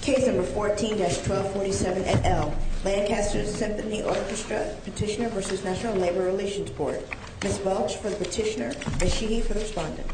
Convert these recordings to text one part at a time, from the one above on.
Case No. 14-1247 et al., Lancaster Symphony Orchestra, Petitioner v. National Labor Relations Board. Ms. Welch for the petitioner, Ms. Sheehy for the respondent. Ms. Welch for the petitioner, Ms. Sheehy for the respondent.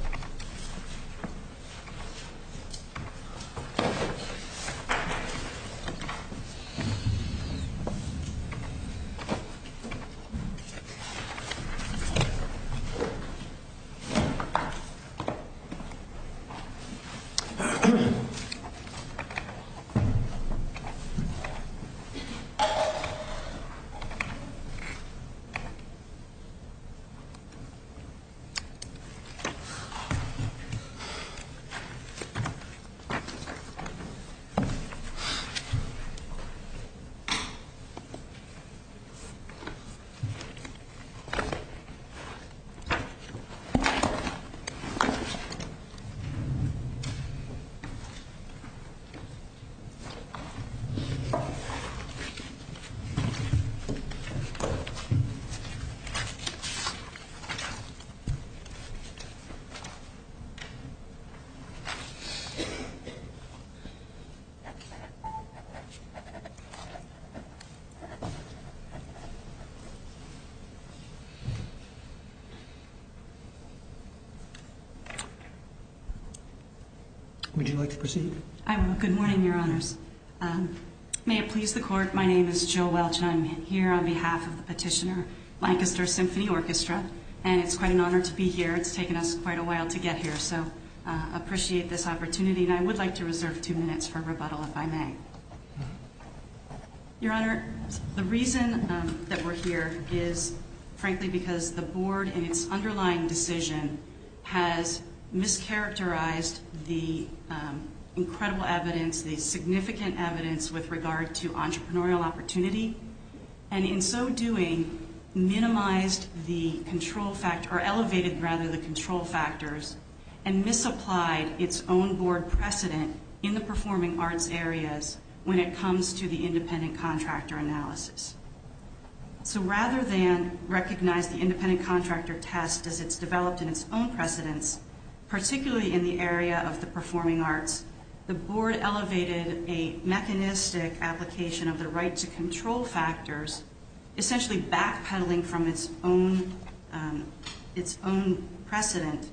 Would you like to proceed? I will. Good morning, Your Honors. May it please the Court, my name is Jill Welch and I'm here on behalf of the petitioner, Lancaster Symphony Orchestra. And it's quite an honor to be here. It's taken us quite a while to get here, so I appreciate this opportunity. And I would like to reserve two minutes for rebuttal, if I may. Your Honor, the reason that we're here is, frankly, because the Board in its underlying decision has mischaracterized the incredible evidence, the significant evidence with regard to entrepreneurial opportunity. And in so doing, minimized the control factor, or elevated, rather, the control factors and misapplied its own Board precedent in the performing arts areas when it comes to the independent contractor analysis. So rather than recognize the independent contractor test as it's developed in its own precedence, particularly in the area of the performing arts, the Board elevated a mechanistic application of the right to control factors, essentially backpedaling from its own precedent.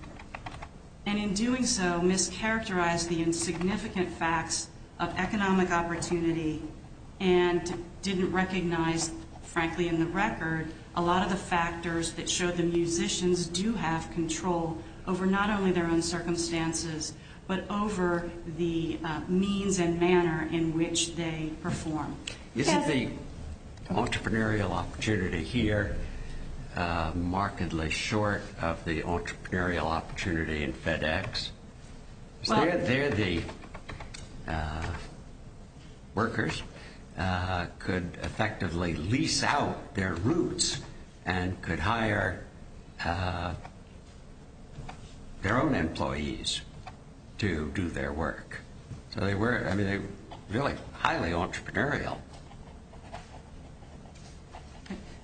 And in doing so, mischaracterized the insignificant facts of economic opportunity and didn't recognize, frankly, in the record, a lot of the factors that show the musicians do have control over not only their own circumstances, but over the means and manner in which they perform. Isn't the entrepreneurial opportunity here markedly short of the entrepreneurial opportunity in FedEx? Is there the workers could effectively lease out their roots and could hire their own employees to do their work? So they were, I mean, they were really highly entrepreneurial.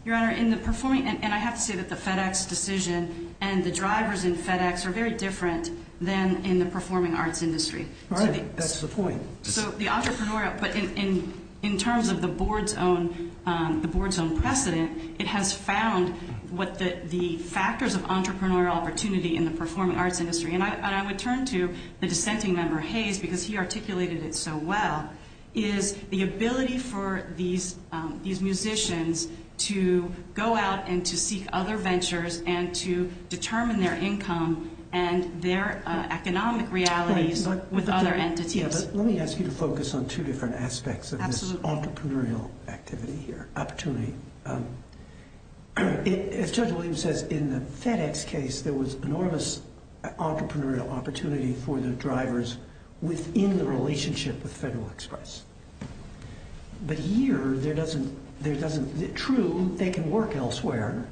Your Honor, in the performing, and I have to say that the FedEx decision and the drivers in FedEx are very different than in the performing arts industry. All right, that's the point. So the entrepreneurial, but in terms of the Board's own precedent, it has found what the factors of entrepreneurial opportunity in the performing arts industry, and I would turn to the dissenting member, Hayes, because he articulated it so well, is the ability for these musicians to go out and to seek other ventures and to determine their income and their economic realities with other entities. Let me ask you to focus on two different aspects of this entrepreneurial activity here, opportunity. As Judge Williams says, in the FedEx case, there was enormous entrepreneurial opportunity for the drivers within the relationship with Federal Express. But here, there doesn't, true, they can work elsewhere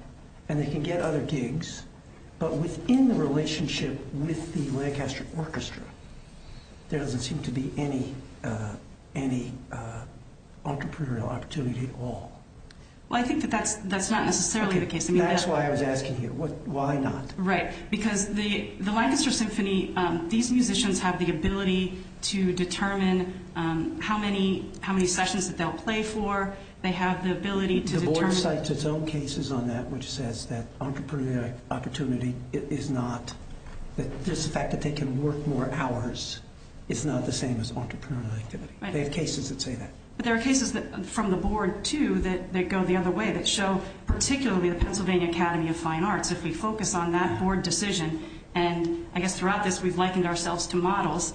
and they can get other gigs, but within the relationship with the Lancaster Orchestra, there doesn't seem to be any entrepreneurial opportunity at all. Well, I think that that's not necessarily the case. That's why I was asking you, why not? Right, because the Lancaster Symphony, these musicians have the ability to determine how many sessions that they'll play for. The Board cites its own cases on that, which says that entrepreneurial opportunity is not, that just the fact that they can work more hours is not the same as entrepreneurial activity. They have cases that say that. But there are cases from the Board, too, that go the other way, that show particularly the Pennsylvania Academy of Fine Arts. If we focus on that Board decision, and I guess throughout this we've likened ourselves to models,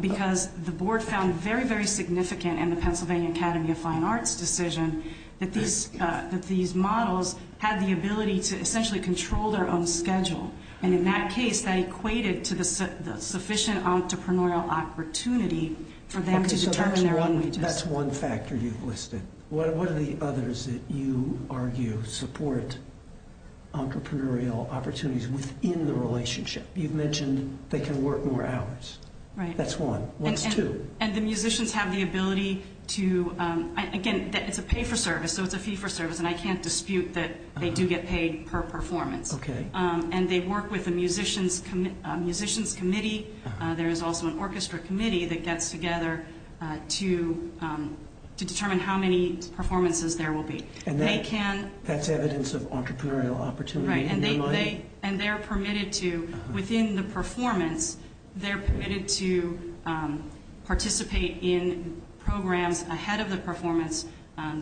because the Board found very, very significant in the Pennsylvania Academy of Fine Arts decision that these models had the ability to essentially control their own schedule. And in that case, that equated to the sufficient entrepreneurial opportunity for them to determine their own wages. Okay, so that's one factor you've listed. What are the others that you argue support entrepreneurial opportunities within the relationship? You've mentioned they can work more hours. Right. That's one. One's two. And the musicians have the ability to, again, it's a pay-for-service, so it's a fee-for-service, and I can't dispute that they do get paid per performance. Okay. And they work with a musician's committee. There is also an orchestra committee that gets together to determine how many performances there will be. And that's evidence of entrepreneurial opportunity in their mind? And they're permitted to, within the performance, they're permitted to participate in programs ahead of the performance.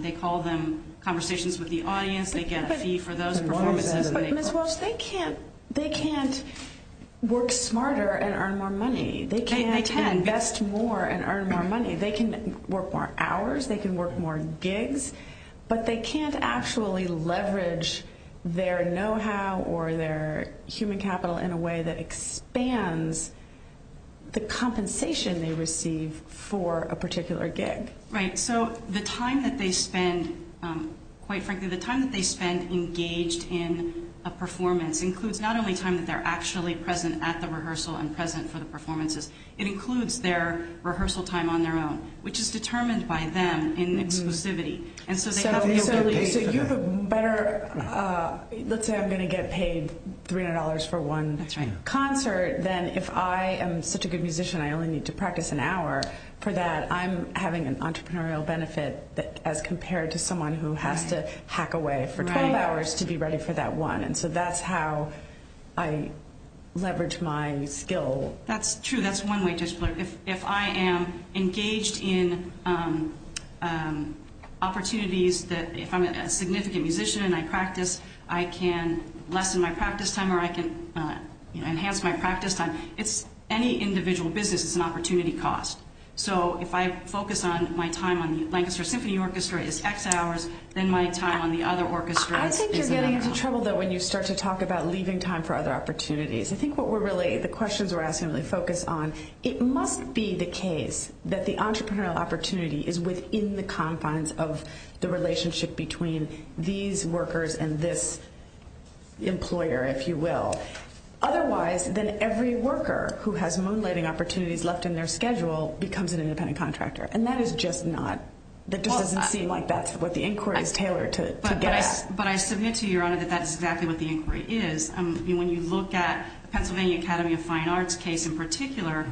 They call them conversations with the audience. They get a fee for those performances. But, Ms. Welch, they can't work smarter and earn more money. They can't invest more and earn more money. They can work more gigs. But they can't actually leverage their know-how or their human capital in a way that expands the compensation they receive for a particular gig. Right. So the time that they spend, quite frankly, the time that they spend engaged in a performance includes not only time that they're actually present at the rehearsal and present for the performances. It includes their rehearsal time on their own, which is determined by them in exclusivity. So you have a better, let's say I'm going to get paid $300 for one concert. Then if I am such a good musician, I only need to practice an hour for that. I'm having an entrepreneurial benefit as compared to someone who has to hack away for 12 hours to be ready for that one. And so that's how I leverage my skill. That's true. That's one way to explain it. If I am engaged in opportunities, if I'm a significant musician and I practice, I can lessen my practice time or I can enhance my practice time. It's any individual business. It's an opportunity cost. So if I focus my time on the Lancaster Symphony Orchestra, it's X hours. Then my time on the other orchestras is an opportunity cost. I think you're getting into trouble, though, when you start to talk about leaving time for other opportunities. I think what we're really, the questions we're asking really focus on, it must be the case that the entrepreneurial opportunity is within the confines of the relationship between these workers and this employer, if you will. Otherwise, then every worker who has moonlighting opportunities left in their schedule becomes an independent contractor. And that is just not, that just doesn't seem like that's what the inquiry is tailored to get at. But I submit to you, Your Honor, that that is exactly what the inquiry is. When you look at the Pennsylvania Academy of Fine Arts case in particular,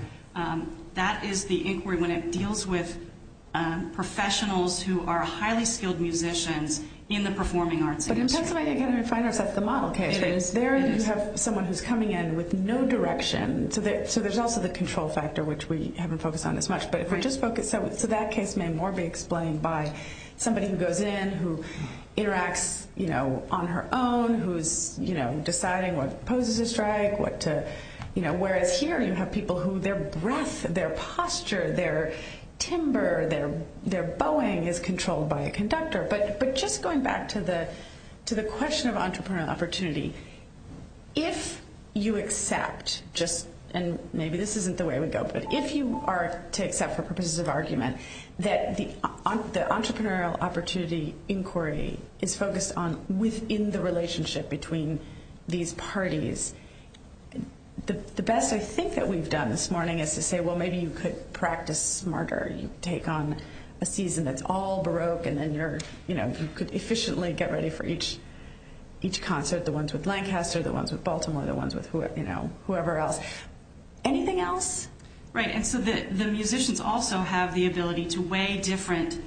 that is the inquiry when it deals with professionals who are highly skilled musicians in the performing arts industry. But in Pennsylvania Academy of Fine Arts, that's the model case. It is. There you have someone who's coming in with no direction. So there's also the control factor, which we haven't focused on as much. So that case may more be explained by somebody who goes in, who interacts on her own, who's deciding what poses a strike. Whereas here you have people who their breath, their posture, their timber, their bowing is controlled by a conductor. But just going back to the question of entrepreneurial opportunity, if you accept just, and maybe this isn't the way we go, but if you are to accept for purposes of argument that the entrepreneurial opportunity inquiry is focused on within the relationship between these parties, the best I think that we've done this morning is to say, well, maybe you could practice smarter. You take on a season that's all Baroque, and then you could efficiently get ready for each concert. The ones with Lancaster, the ones with Baltimore, the ones with whoever else. Anything else? Right, and so the musicians also have the ability to weigh different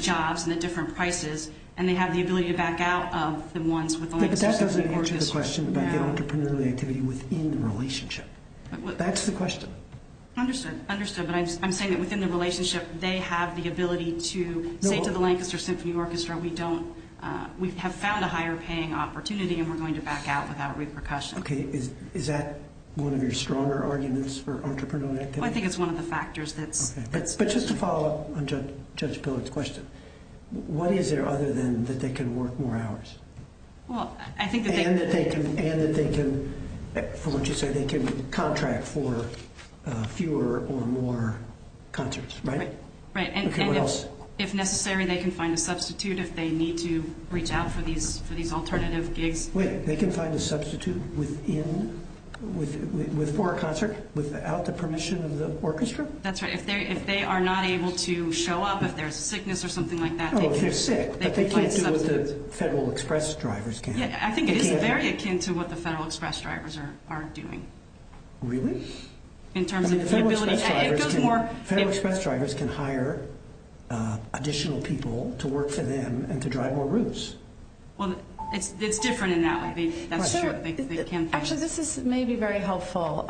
jobs and at different prices, and they have the ability to back out of the ones with Lancaster. But that doesn't answer the question about the entrepreneurial activity within the relationship. That's the question. Understood, understood, but I'm saying that within the relationship they have the ability to say to the Lancaster Symphony Orchestra, we have found a higher paying opportunity, and we're going to back out without repercussion. Okay, is that one of your stronger arguments for entrepreneurial activity? I think it's one of the factors that's— Okay, but just to follow up on Judge Pillard's question, what is there other than that they can work more hours? And that they can, for what you say, they can contract for fewer or more concerts, right? Right. Okay, what else? If necessary, they can find a substitute if they need to reach out for these alternative gigs. Wait, they can find a substitute for a concert without the permission of the orchestra? That's right. If they are not able to show up, if there's sickness or something like that— If they're sick, but they can't do what the Federal Express drivers can. Yeah, I think it is very akin to what the Federal Express drivers are doing. Really? In terms of the ability— Federal Express drivers can hire additional people to work for them and to drive more routes. Well, it's different in that way. That's true. Actually, this may be very helpful.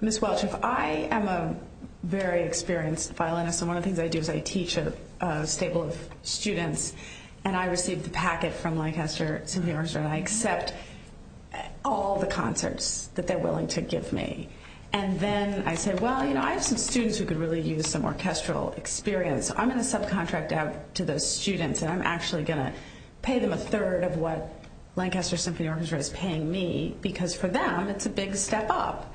Ms. Welch, I am a very experienced violinist, and one of the things I do is I teach a stable of students, and I receive the packet from Lancaster Symphony Orchestra, and I accept all the concerts that they're willing to give me. And then I say, well, you know, I have some students who could really use some orchestral experience. I'm going to subcontract out to those students, and I'm actually going to pay them a third of what Lancaster Symphony Orchestra is paying me, because for them, it's a big step up.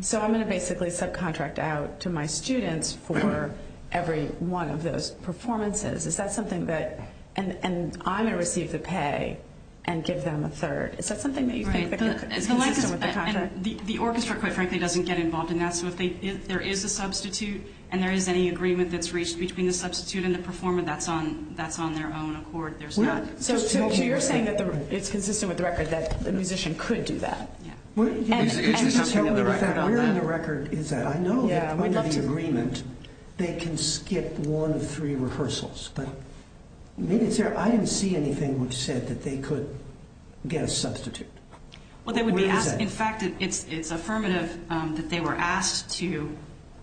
So I'm going to basically subcontract out to my students for every one of those performances. Is that something that—and I'm going to receive the pay and give them a third. Is that something that you think is consistent with the contract? The orchestra, quite frankly, doesn't get involved in that. So if there is a substitute and there is any agreement that's reached between the substitute and the performer, that's on their own accord. So you're saying that it's consistent with the record that the musician could do that. Yeah. Where in the record is that? I know that under the agreement, they can skip one of three rehearsals, but I didn't see anything which said that they could get a substitute. Well, they would be asked—in fact, it's affirmative that they were asked to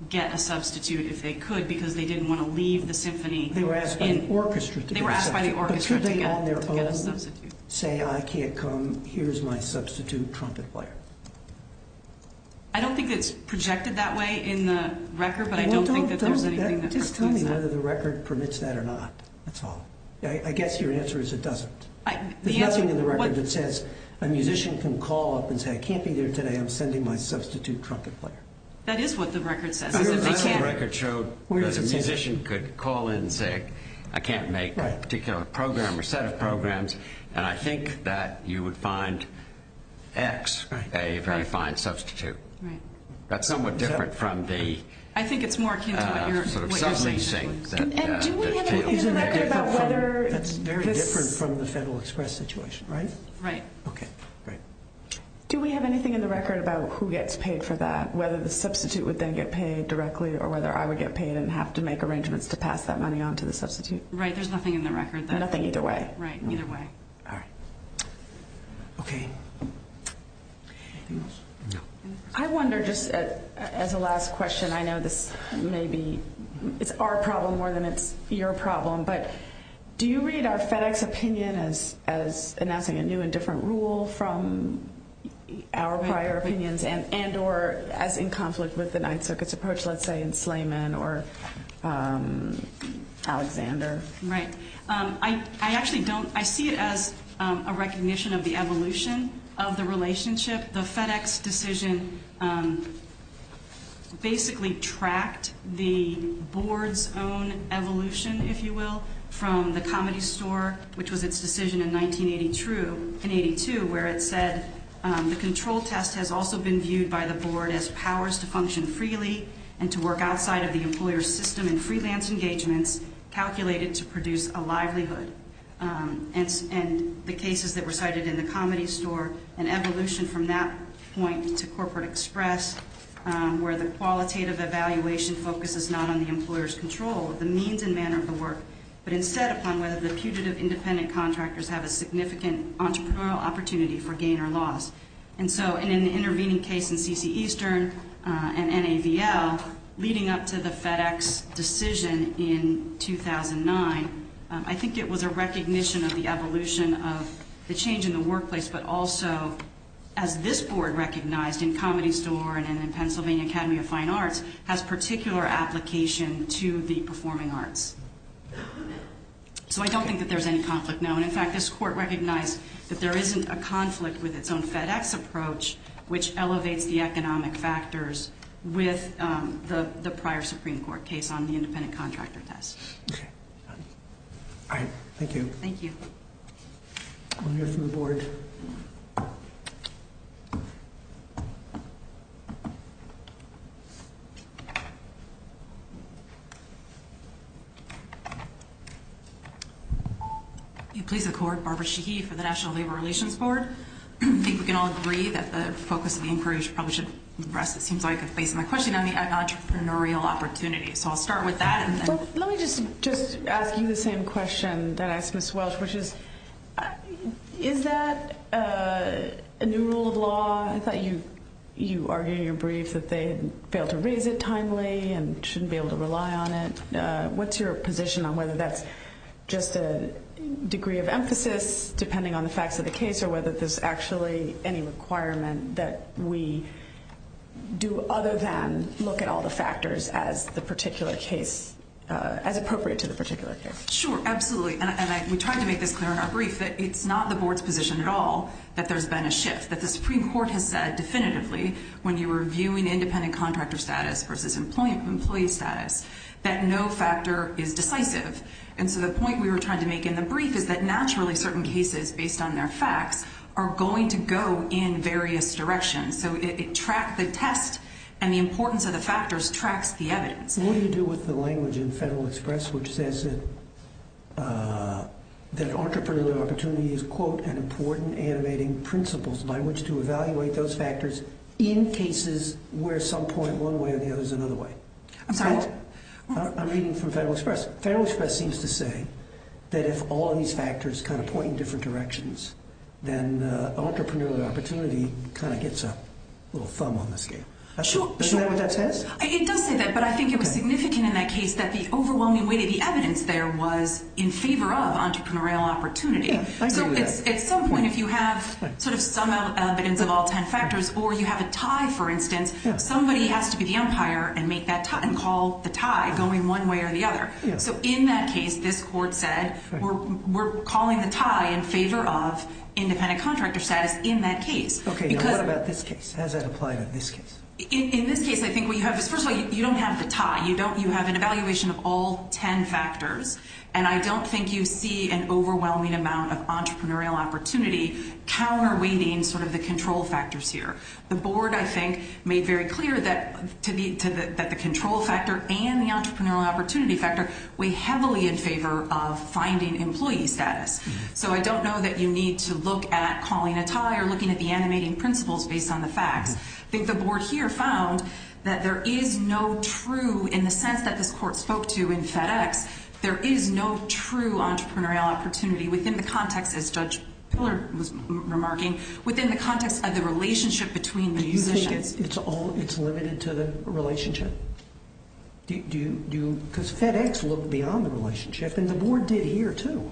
get a substitute if they could, because they didn't want to leave the symphony. They were asked by the orchestra to get a substitute. But could they on their own say, I can't come, here's my substitute trumpet player? I don't think it's projected that way in the record, but I don't think that there's anything that— Well, don't—just tell me whether the record permits that or not. That's all. I guess your answer is it doesn't. There's nothing in the record that says a musician can call up and say, I can't be there today. I'm sending my substitute trumpet player. That is what the record says. The record showed that a musician could call in and say, I can't make a particular program or set of programs, and I think that you would find X a very fine substitute. That's somewhat different from the— I think it's more akin to what you're saying. Do we have anything in the record about whether— That's very different from the Federal Express situation, right? Right. Okay, great. Do we have anything in the record about who gets paid for that, whether the substitute would then get paid directly or whether I would get paid and have to make arrangements to pass that money on to the substitute? Right, there's nothing in the record. Nothing either way. Right, either way. All right. Okay. I wonder, just as a last question, I know this may be—it's our problem more than it's your problem, but do you read our FedEx opinion as announcing a new and different rule from our prior opinions and or as in conflict with the Ninth Circuit's approach, let's say, in Slayman or Alexander? Right. I actually don't—I see it as a recognition of the evolution of the relationship. The FedEx decision basically tracked the board's own evolution, if you will, from the Comedy Store, which was its decision in 1982 where it said the control test has also been viewed by the board as powers to function freely and to work outside of the employer's system and freelance engagements calculated to produce a livelihood. And the cases that were cited in the Comedy Store, an evolution from that point to Corporate Express, where the qualitative evaluation focuses not on the employer's control of the means and manner of the work, but instead upon whether the putative independent contractors have a significant entrepreneurial opportunity for gain or loss. And so in an intervening case in C.C. Eastern and NAVL, leading up to the FedEx decision in 2009, I think it was a recognition of the evolution of the change in the workplace, but also as this board recognized in Comedy Store and in Pennsylvania Academy of Fine Arts, has particular application to the performing arts. So I don't think that there's any conflict known. In fact, this court recognized that there isn't a conflict with its own FedEx approach, which elevates the economic factors with the prior Supreme Court case on the independent contractor test. All right. Thank you. Thank you. We'll hear from the board. Please accord Barbara Sheehy for the National Labor Relations Board. I think we can all agree that the focus of the inquiry should probably rest, it seems like, based on the question on the entrepreneurial opportunity. So I'll start with that. Let me just ask you the same question that I asked Ms. Welch, which is, is that a new rule of law? I thought you argued in your brief that they had failed to raise it timely and shouldn't be able to rely on it. What's your position on whether that's just a degree of emphasis, depending on the facts of the case, or whether there's actually any requirement that we do other than look at all the factors as the particular case, as appropriate to the particular case? Sure. Absolutely. And we tried to make this clear in our brief that it's not the board's position at all that there's been a shift, that the Supreme Court has said definitively when you were reviewing independent contractor status versus employee status, that no factor is decisive. And so the point we were trying to make in the brief is that naturally certain cases, based on their facts, are going to go in various directions. So the test and the importance of the factors tracks the evidence. What do you do with the language in Federal Express which says that entrepreneurial opportunity is, quote, an important animating principle by which to evaluate those factors in cases where some point one way or the other is another way? I'm sorry? I'm reading from Federal Express. Federal Express seems to say that if all of these factors kind of point in different directions, then entrepreneurial opportunity kind of gets a little thumb on the scale. Sure. Isn't that what that says? It does say that, but I think it was significant in that case that the overwhelming weight of the evidence there was in favor of entrepreneurial opportunity. Yeah, I agree with that. So at some point if you have sort of some evidence of all ten factors or you have a tie, for instance, somebody has to be the umpire and make that tie and call the tie going one way or the other. So in that case, this court said we're calling the tie in favor of independent contractor status in that case. Okay. Now what about this case? How does that apply to this case? In this case, I think what you have is, first of all, you don't have the tie. You have an evaluation of all ten factors, and I don't think you see an overwhelming amount of entrepreneurial opportunity counterweighting sort of the control factors here. The board, I think, made very clear that the control factor and the entrepreneurial opportunity factor weigh heavily in favor of finding employee status. So I don't know that you need to look at calling a tie or looking at the animating principles based on the facts. I think the board here found that there is no true, in the sense that this court spoke to in FedEx, there is no true entrepreneurial opportunity within the context, as Judge Pillard was remarking, within the context of the relationship between the musicians. Do you think it's limited to the relationship? Because FedEx looked beyond the relationship, and the board did here, too.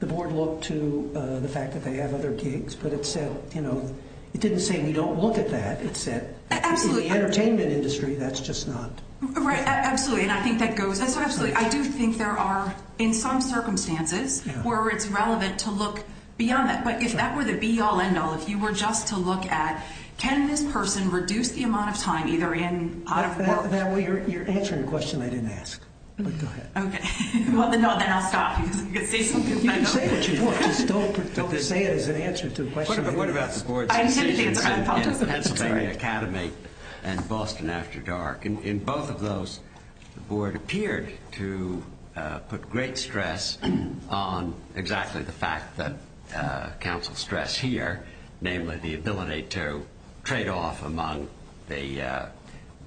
The board looked to the fact that they have other gigs, but it said, you know, it didn't say we don't look at that. It said in the entertainment industry, that's just not. Right. Absolutely, and I think that goes. Absolutely. I do think there are, in some circumstances, where it's relevant to look beyond that. But if that were the be-all, end-all, if you were just to look at, can this person reduce the amount of time either in or out of work? You're answering a question I didn't ask. Go ahead. Okay. Well, then I'll stop. You can say what you want. Just don't say it as an answer to a question. What about the board's decisions in Pennsylvania Academy and Boston After Dark? In both of those, the board appeared to put great stress on exactly the fact that counsel stressed here, namely the ability to trade off among the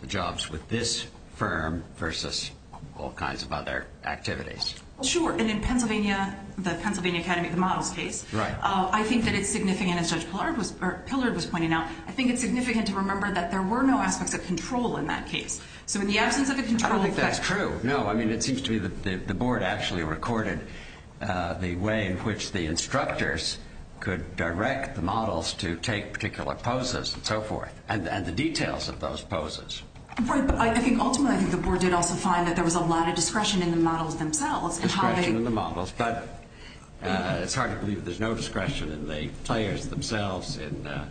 jobs with this firm versus all kinds of other activities. Sure, and in Pennsylvania, the Pennsylvania Academy, the models case. Right. I think that it's significant, as Judge Pillard was pointing out. I think it's significant to remember that there were no aspects of control in that case. So in the absence of a control – I don't think that's true. No, I mean, it seems to me that the board actually recorded the way in which the instructors could direct the models to take particular poses and so forth, and the details of those poses. Right, but I think ultimately the board did also find that there was a lot of discretion in the models themselves in having – There was a lot of discretion in the players themselves in the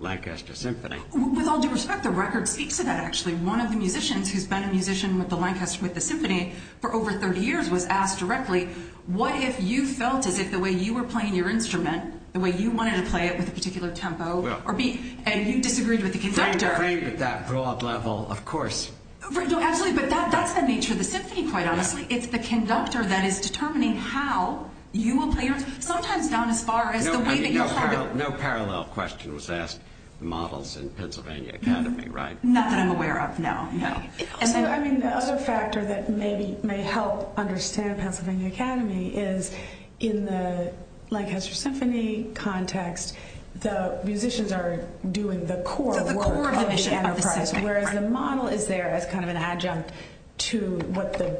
Lancaster Symphony. With all due respect, the record speaks to that, actually. One of the musicians who's been a musician with the Lancaster – with the symphony for over 30 years was asked directly, what if you felt as if the way you were playing your instrument, the way you wanted to play it with a particular tempo or beat, and you disagreed with the conductor? Framed at that broad level, of course. No, absolutely, but that's the nature of the symphony, quite honestly. It's the conductor that is determining how you will play your instrument, sometimes down as far as the way that you'll play it. No parallel question was asked to the models in Pennsylvania Academy, right? Not that I'm aware of, no. I mean, the other factor that maybe may help understand Pennsylvania Academy is in the Lancaster Symphony context, the musicians are doing the core work of the enterprise. The core of the mission of the symphony. Whereas the model is there as kind of an adjunct to what the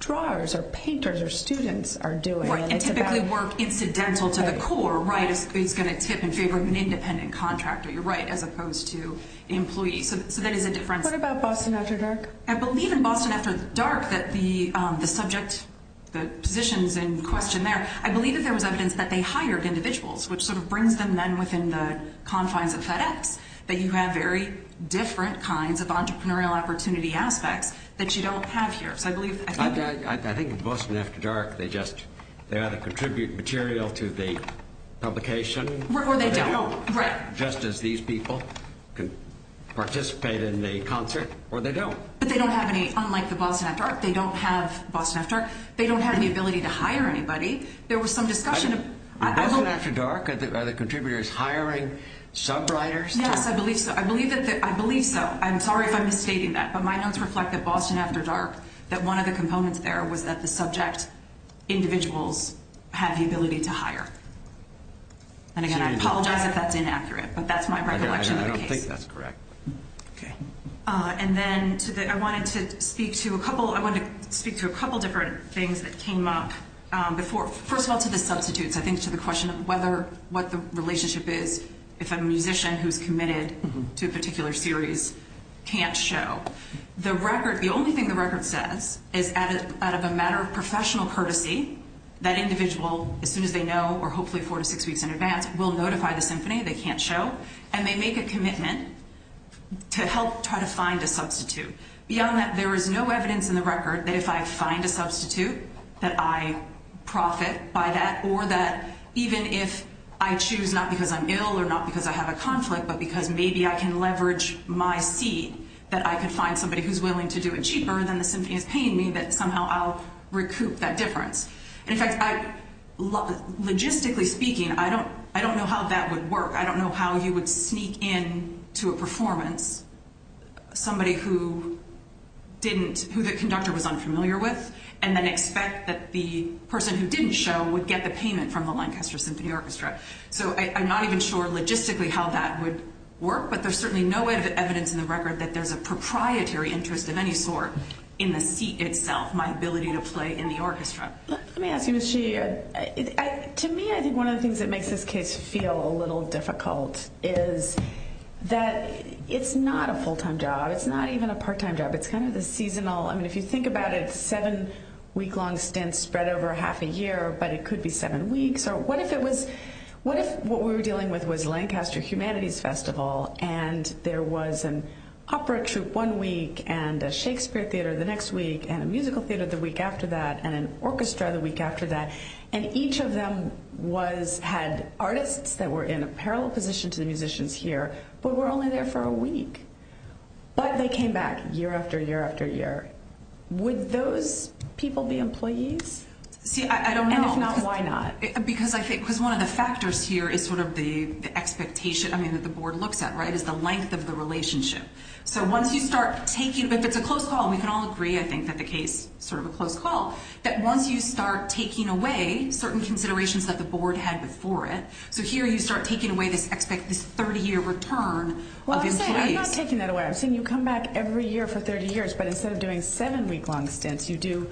drawers or painters or students are doing. Typically work incidental to the core, right? It's going to tip in favor of an independent contractor, you're right, as opposed to employees. So that is a difference. What about Boston After Dark? I believe in Boston After Dark that the subject, the positions in question there, I believe that there was evidence that they hired individuals, which sort of brings them then within the confines of FedEx, that you have very different kinds of entrepreneurial opportunity aspects that you don't have here. I think in Boston After Dark they either contribute material to the publication, just as these people participate in the concert, or they don't. But they don't have any, unlike the Boston After Dark, they don't have Boston After Dark, they don't have the ability to hire anybody. In Boston After Dark, are the contributors hiring sub writers? Yes, I believe so. I believe so. I'm sorry if I'm misstating that, but my notes reflect that Boston After Dark, that one of the components there was that the subject individuals have the ability to hire. And again, I apologize if that's inaccurate, but that's my recollection of the case. I don't think that's correct. Okay. And then I wanted to speak to a couple different things that came up. First of all, to the substitutes, I think to the question of what the relationship is if a musician who's committed to a particular series can't show. The only thing the record says is out of a matter of professional courtesy, that individual, as soon as they know, or hopefully four to six weeks in advance, will notify the symphony they can't show. And they make a commitment to help try to find a substitute. Beyond that, there is no evidence in the record that if I find a substitute, that I profit by that, or that even if I choose not because I'm ill or not because I have a conflict, but because maybe I can leverage my seat, that I can find somebody who's willing to do it cheaper than the symphony is paying me, that somehow I'll recoup that difference. And in fact, logistically speaking, I don't know how that would work. I don't know how you would sneak in to a performance somebody who didn't, who the conductor was unfamiliar with, and then expect that the person who didn't show would get the payment from the Lancaster Symphony Orchestra. So I'm not even sure logistically how that would work, but there's certainly no evidence in the record that there's a proprietary interest of any sort in the seat itself, my ability to play in the orchestra. Let me ask you, Ms. Sheehy, to me, I think one of the things that makes this case feel a little difficult is that it's not a full-time job. It's not even a part-time job. It's kind of the seasonal. I mean, if you think about it, seven-week-long stints spread over half a year, but it could be seven weeks. What if what we were dealing with was Lancaster Humanities Festival, and there was an opera troupe one week, and a Shakespeare theater the next week, and a musical theater the week after that, and an orchestra the week after that, and each of them had artists that were in a parallel position to the musicians here, but were only there for a week. But they came back year after year after year. Would those people be employees? See, I don't know. And if not, why not? Because I think one of the factors here is sort of the expectation, I mean, that the board looks at, right, is the length of the relationship. So once you start taking – if it's a close call, and we can all agree, I think, that the case is sort of a close call, that once you start taking away certain considerations that the board had before it, so here you start taking away this 30-year return of employees. Well, I'm saying I'm not taking that away. I'm saying you come back every year for 30 years, but instead of doing seven-week-long stints, you do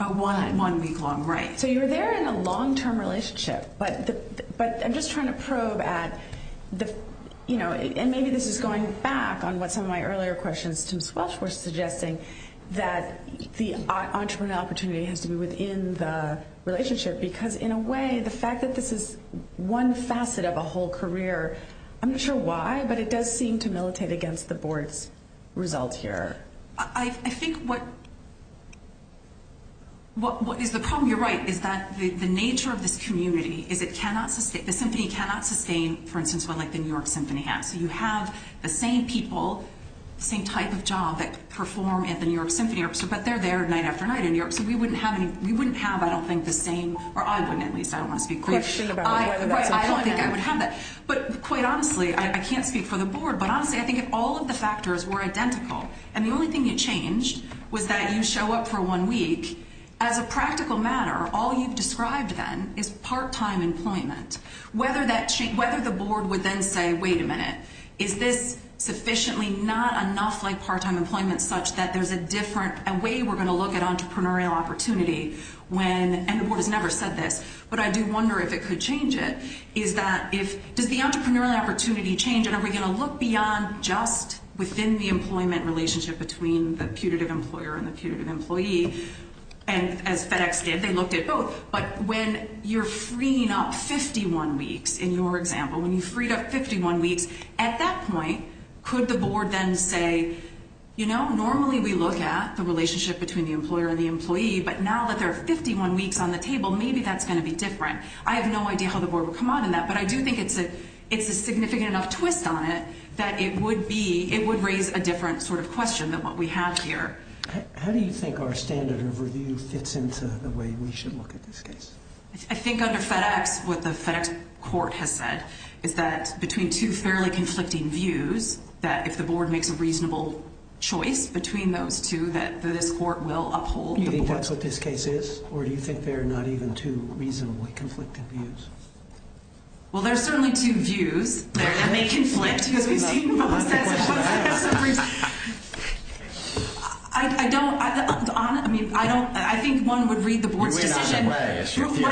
a one-week-long. Right. So you're there in a long-term relationship, but I'm just trying to probe at – and maybe this is going back on what some of my earlier questions to Ms. Welsh were suggesting, that the entrepreneurial opportunity has to be within the relationship, because in a way, the fact that this is one facet of a whole career, I'm not sure why, but it does seem to militate against the board's results here. I think what – what is the problem – you're right – is that the nature of this community is it cannot – the symphony cannot sustain, for instance, what, like, the New York Symphony has. So you have the same people, same type of job that perform at the New York Symphony, but they're there night after night in New York, so we wouldn't have any – we wouldn't have, I don't think, the same – or I wouldn't, at least. I don't want to speak – Question about whether that's important. Right. I don't think I would have that. But quite honestly, I can't speak for the board, but honestly, I think if all of the factors were identical and the only thing you changed was that you show up for one week, as a practical matter, all you've described then is part-time employment. Whether that – whether the board would then say, wait a minute, is this sufficiently not enough, like, part-time employment such that there's a different – a way we're going to look at entrepreneurial opportunity when – and the board has never said this, but I do wonder if it could change it. Is that if – does the entrepreneurial opportunity change and are we going to look beyond just within the employment relationship between the putative employer and the putative employee? And as FedEx did, they looked at both. But when you're freeing up 51 weeks, in your example, when you freed up 51 weeks, at that point, could the board then say, you know, normally we look at the relationship between the employer and the employee, but now that there are 51 weeks on the table, maybe that's going to be different. I have no idea how the board would come out on that, but I do think it's a – it's a significant enough twist on it that it would be – it would raise a different sort of question than what we have here. How do you think our standard of review fits into the way we should look at this case? I think under FedEx, what the FedEx court has said is that between two fairly conflicting views, that if the board makes a reasonable choice between those two, that this court will uphold the board. Do you think that's what this case is, or do you think there are not even two reasonably conflicted views? Well, there are certainly two views. And they conflict because we've seen both sides of the – I don't – I mean, I don't – I think one would read the board's decision. You win either way, as she appears.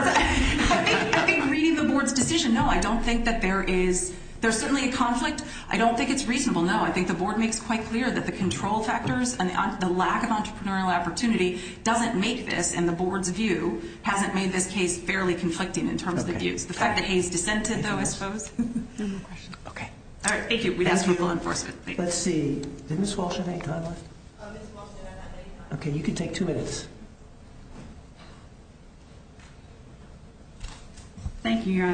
I think reading the board's decision, no, I don't think that there is – there's certainly a conflict. I don't think it's reasonable. As most people know, I think the board makes quite clear that the control factors and the lack of entrepreneurial opportunity doesn't make this, and the board's view hasn't made this case fairly conflicting in terms of the views. The fact that he's dissented, though, I suppose. Okay. All right. Thank you. We'd ask for full enforcement. Let's see. Did Ms. Walsh have any time left? Ms. Walsh did not have any time. Okay. You can take two minutes. Thank you, Your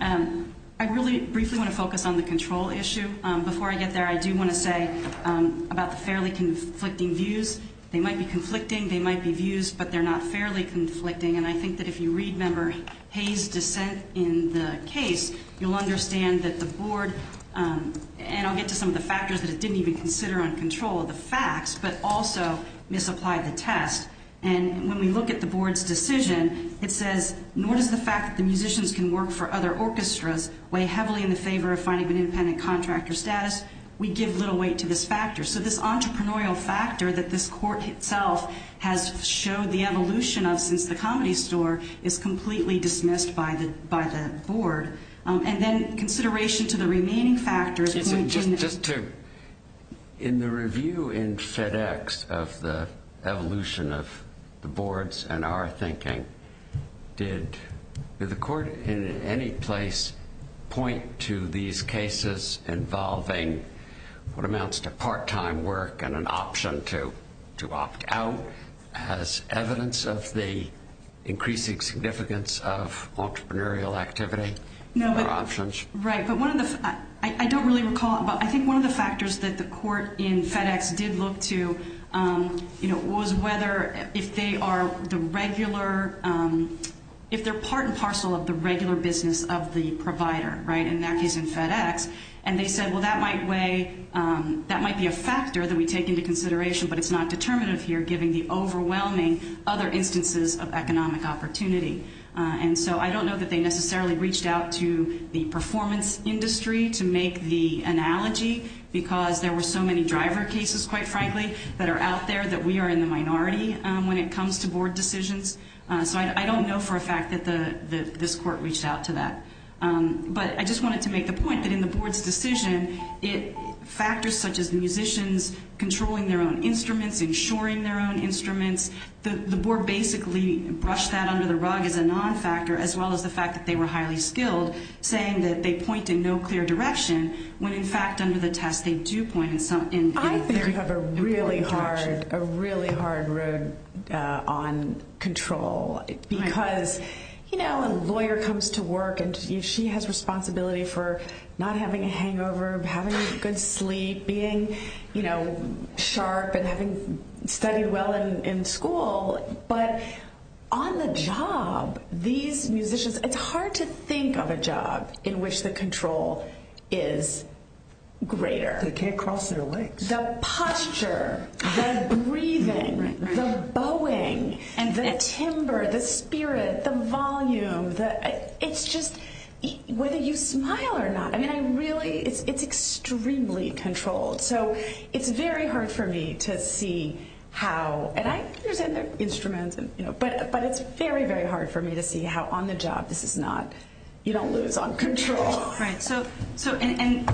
Honor. I really briefly want to focus on the control issue. Before I get there, I do want to say about the fairly conflicting views, they might be conflicting, they might be views, but they're not fairly conflicting. And I think that if you read, Member Hayes' dissent in the case, you'll understand that the board – and I'll get to some of the factors that it didn't even consider on control, the facts, but also misapplied the test. And when we look at the board's decision, it says, nor does the fact that the musicians can work for other orchestras weigh heavily in the favor of finding an independent contractor status. We give little weight to this factor. So this entrepreneurial factor that this court itself has showed the evolution of since the Comedy Store is completely dismissed by the board. And then consideration to the remaining factors. Just to – in the review in FedEx of the evolution of the boards and our thinking, did the court in any place point to these cases involving what amounts to part-time work and an option to opt out as evidence of the increasing significance of entrepreneurial activity? No, but – Or options. Right. But one of the – I don't really recall, but I think one of the factors that the court in FedEx did look to, you know, was whether if they are the regular – if they're part and parcel of the regular business of the provider, right, in that case in FedEx. And they said, well, that might weigh – that might be a factor that we take into consideration, but it's not determinative here, given the overwhelming other instances of economic opportunity. And so I don't know that they necessarily reached out to the performance industry to make the analogy, because there were so many driver cases, quite frankly, that are out there that we are in the minority when it comes to board decisions. So I don't know for a fact that this court reached out to that. But I just wanted to make the point that in the board's decision, factors such as musicians controlling their own instruments, insuring their own instruments, the board basically brushed that under the rug as a non-factor, as well as the fact that they were highly skilled, saying that they point in no clear direction, when in fact under the test they do point in some – in a very important direction. A really hard road on control, because, you know, a lawyer comes to work and she has responsibility for not having a hangover, having a good sleep, being, you know, sharp and having studied well in school. But on the job, these musicians – it's hard to think of a job in which the control is greater. They can't cross their legs. The posture, the breathing, the bowing, and the timbre, the spirit, the volume, the – it's just – whether you smile or not, I mean, I really – it's extremely controlled. So it's very hard for me to see how – and I understand their instruments, but it's very, very hard for me to see how on the job this is not – you don't lose on control. Right. So – and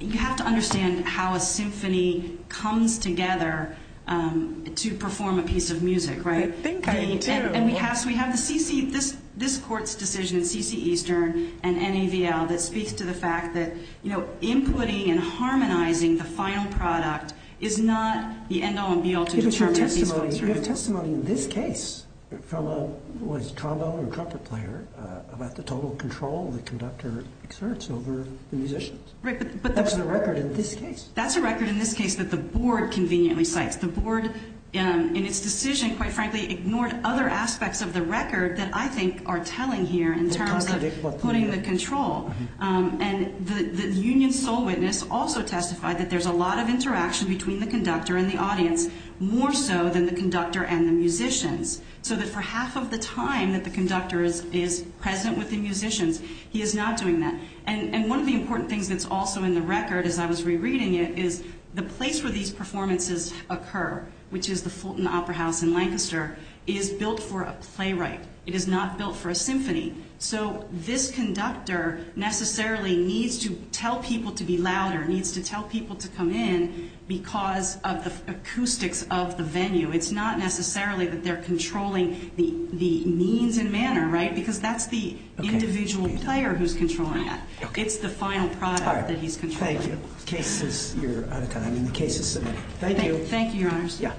you have to understand how a symphony comes together to perform a piece of music, right? I think I do. And we have to – we have the CC – this court's decision, CC Eastern and NAVL, that speaks to the fact that, you know, inputting and harmonizing the final product is not the end all and be all to determine – Right, but – That's a record in this case. That's a record in this case that the board conveniently cites. The board in its decision, quite frankly, ignored other aspects of the record that I think are telling here in terms of putting the control. And the union's sole witness also testified that there's a lot of interaction between the conductor and the audience, more so than the conductor and the musicians, so that for half of the time that the conductor is present with the musicians, he is not doing that. And one of the important things that's also in the record, as I was rereading it, is the place where these performances occur, which is the Fulton Opera House in Lancaster, is built for a playwright. It is not built for a symphony. So this conductor necessarily needs to tell people to be louder, needs to tell people to come in because of the acoustics of the venue. It's not necessarily that they're controlling the means and manner, right, because that's the individual player who's controlling that. It's the final product that he's controlling. Thank you. Case is – you're out of time, and the case is submitted. Thank you. Thank you, Your Honors. Yeah.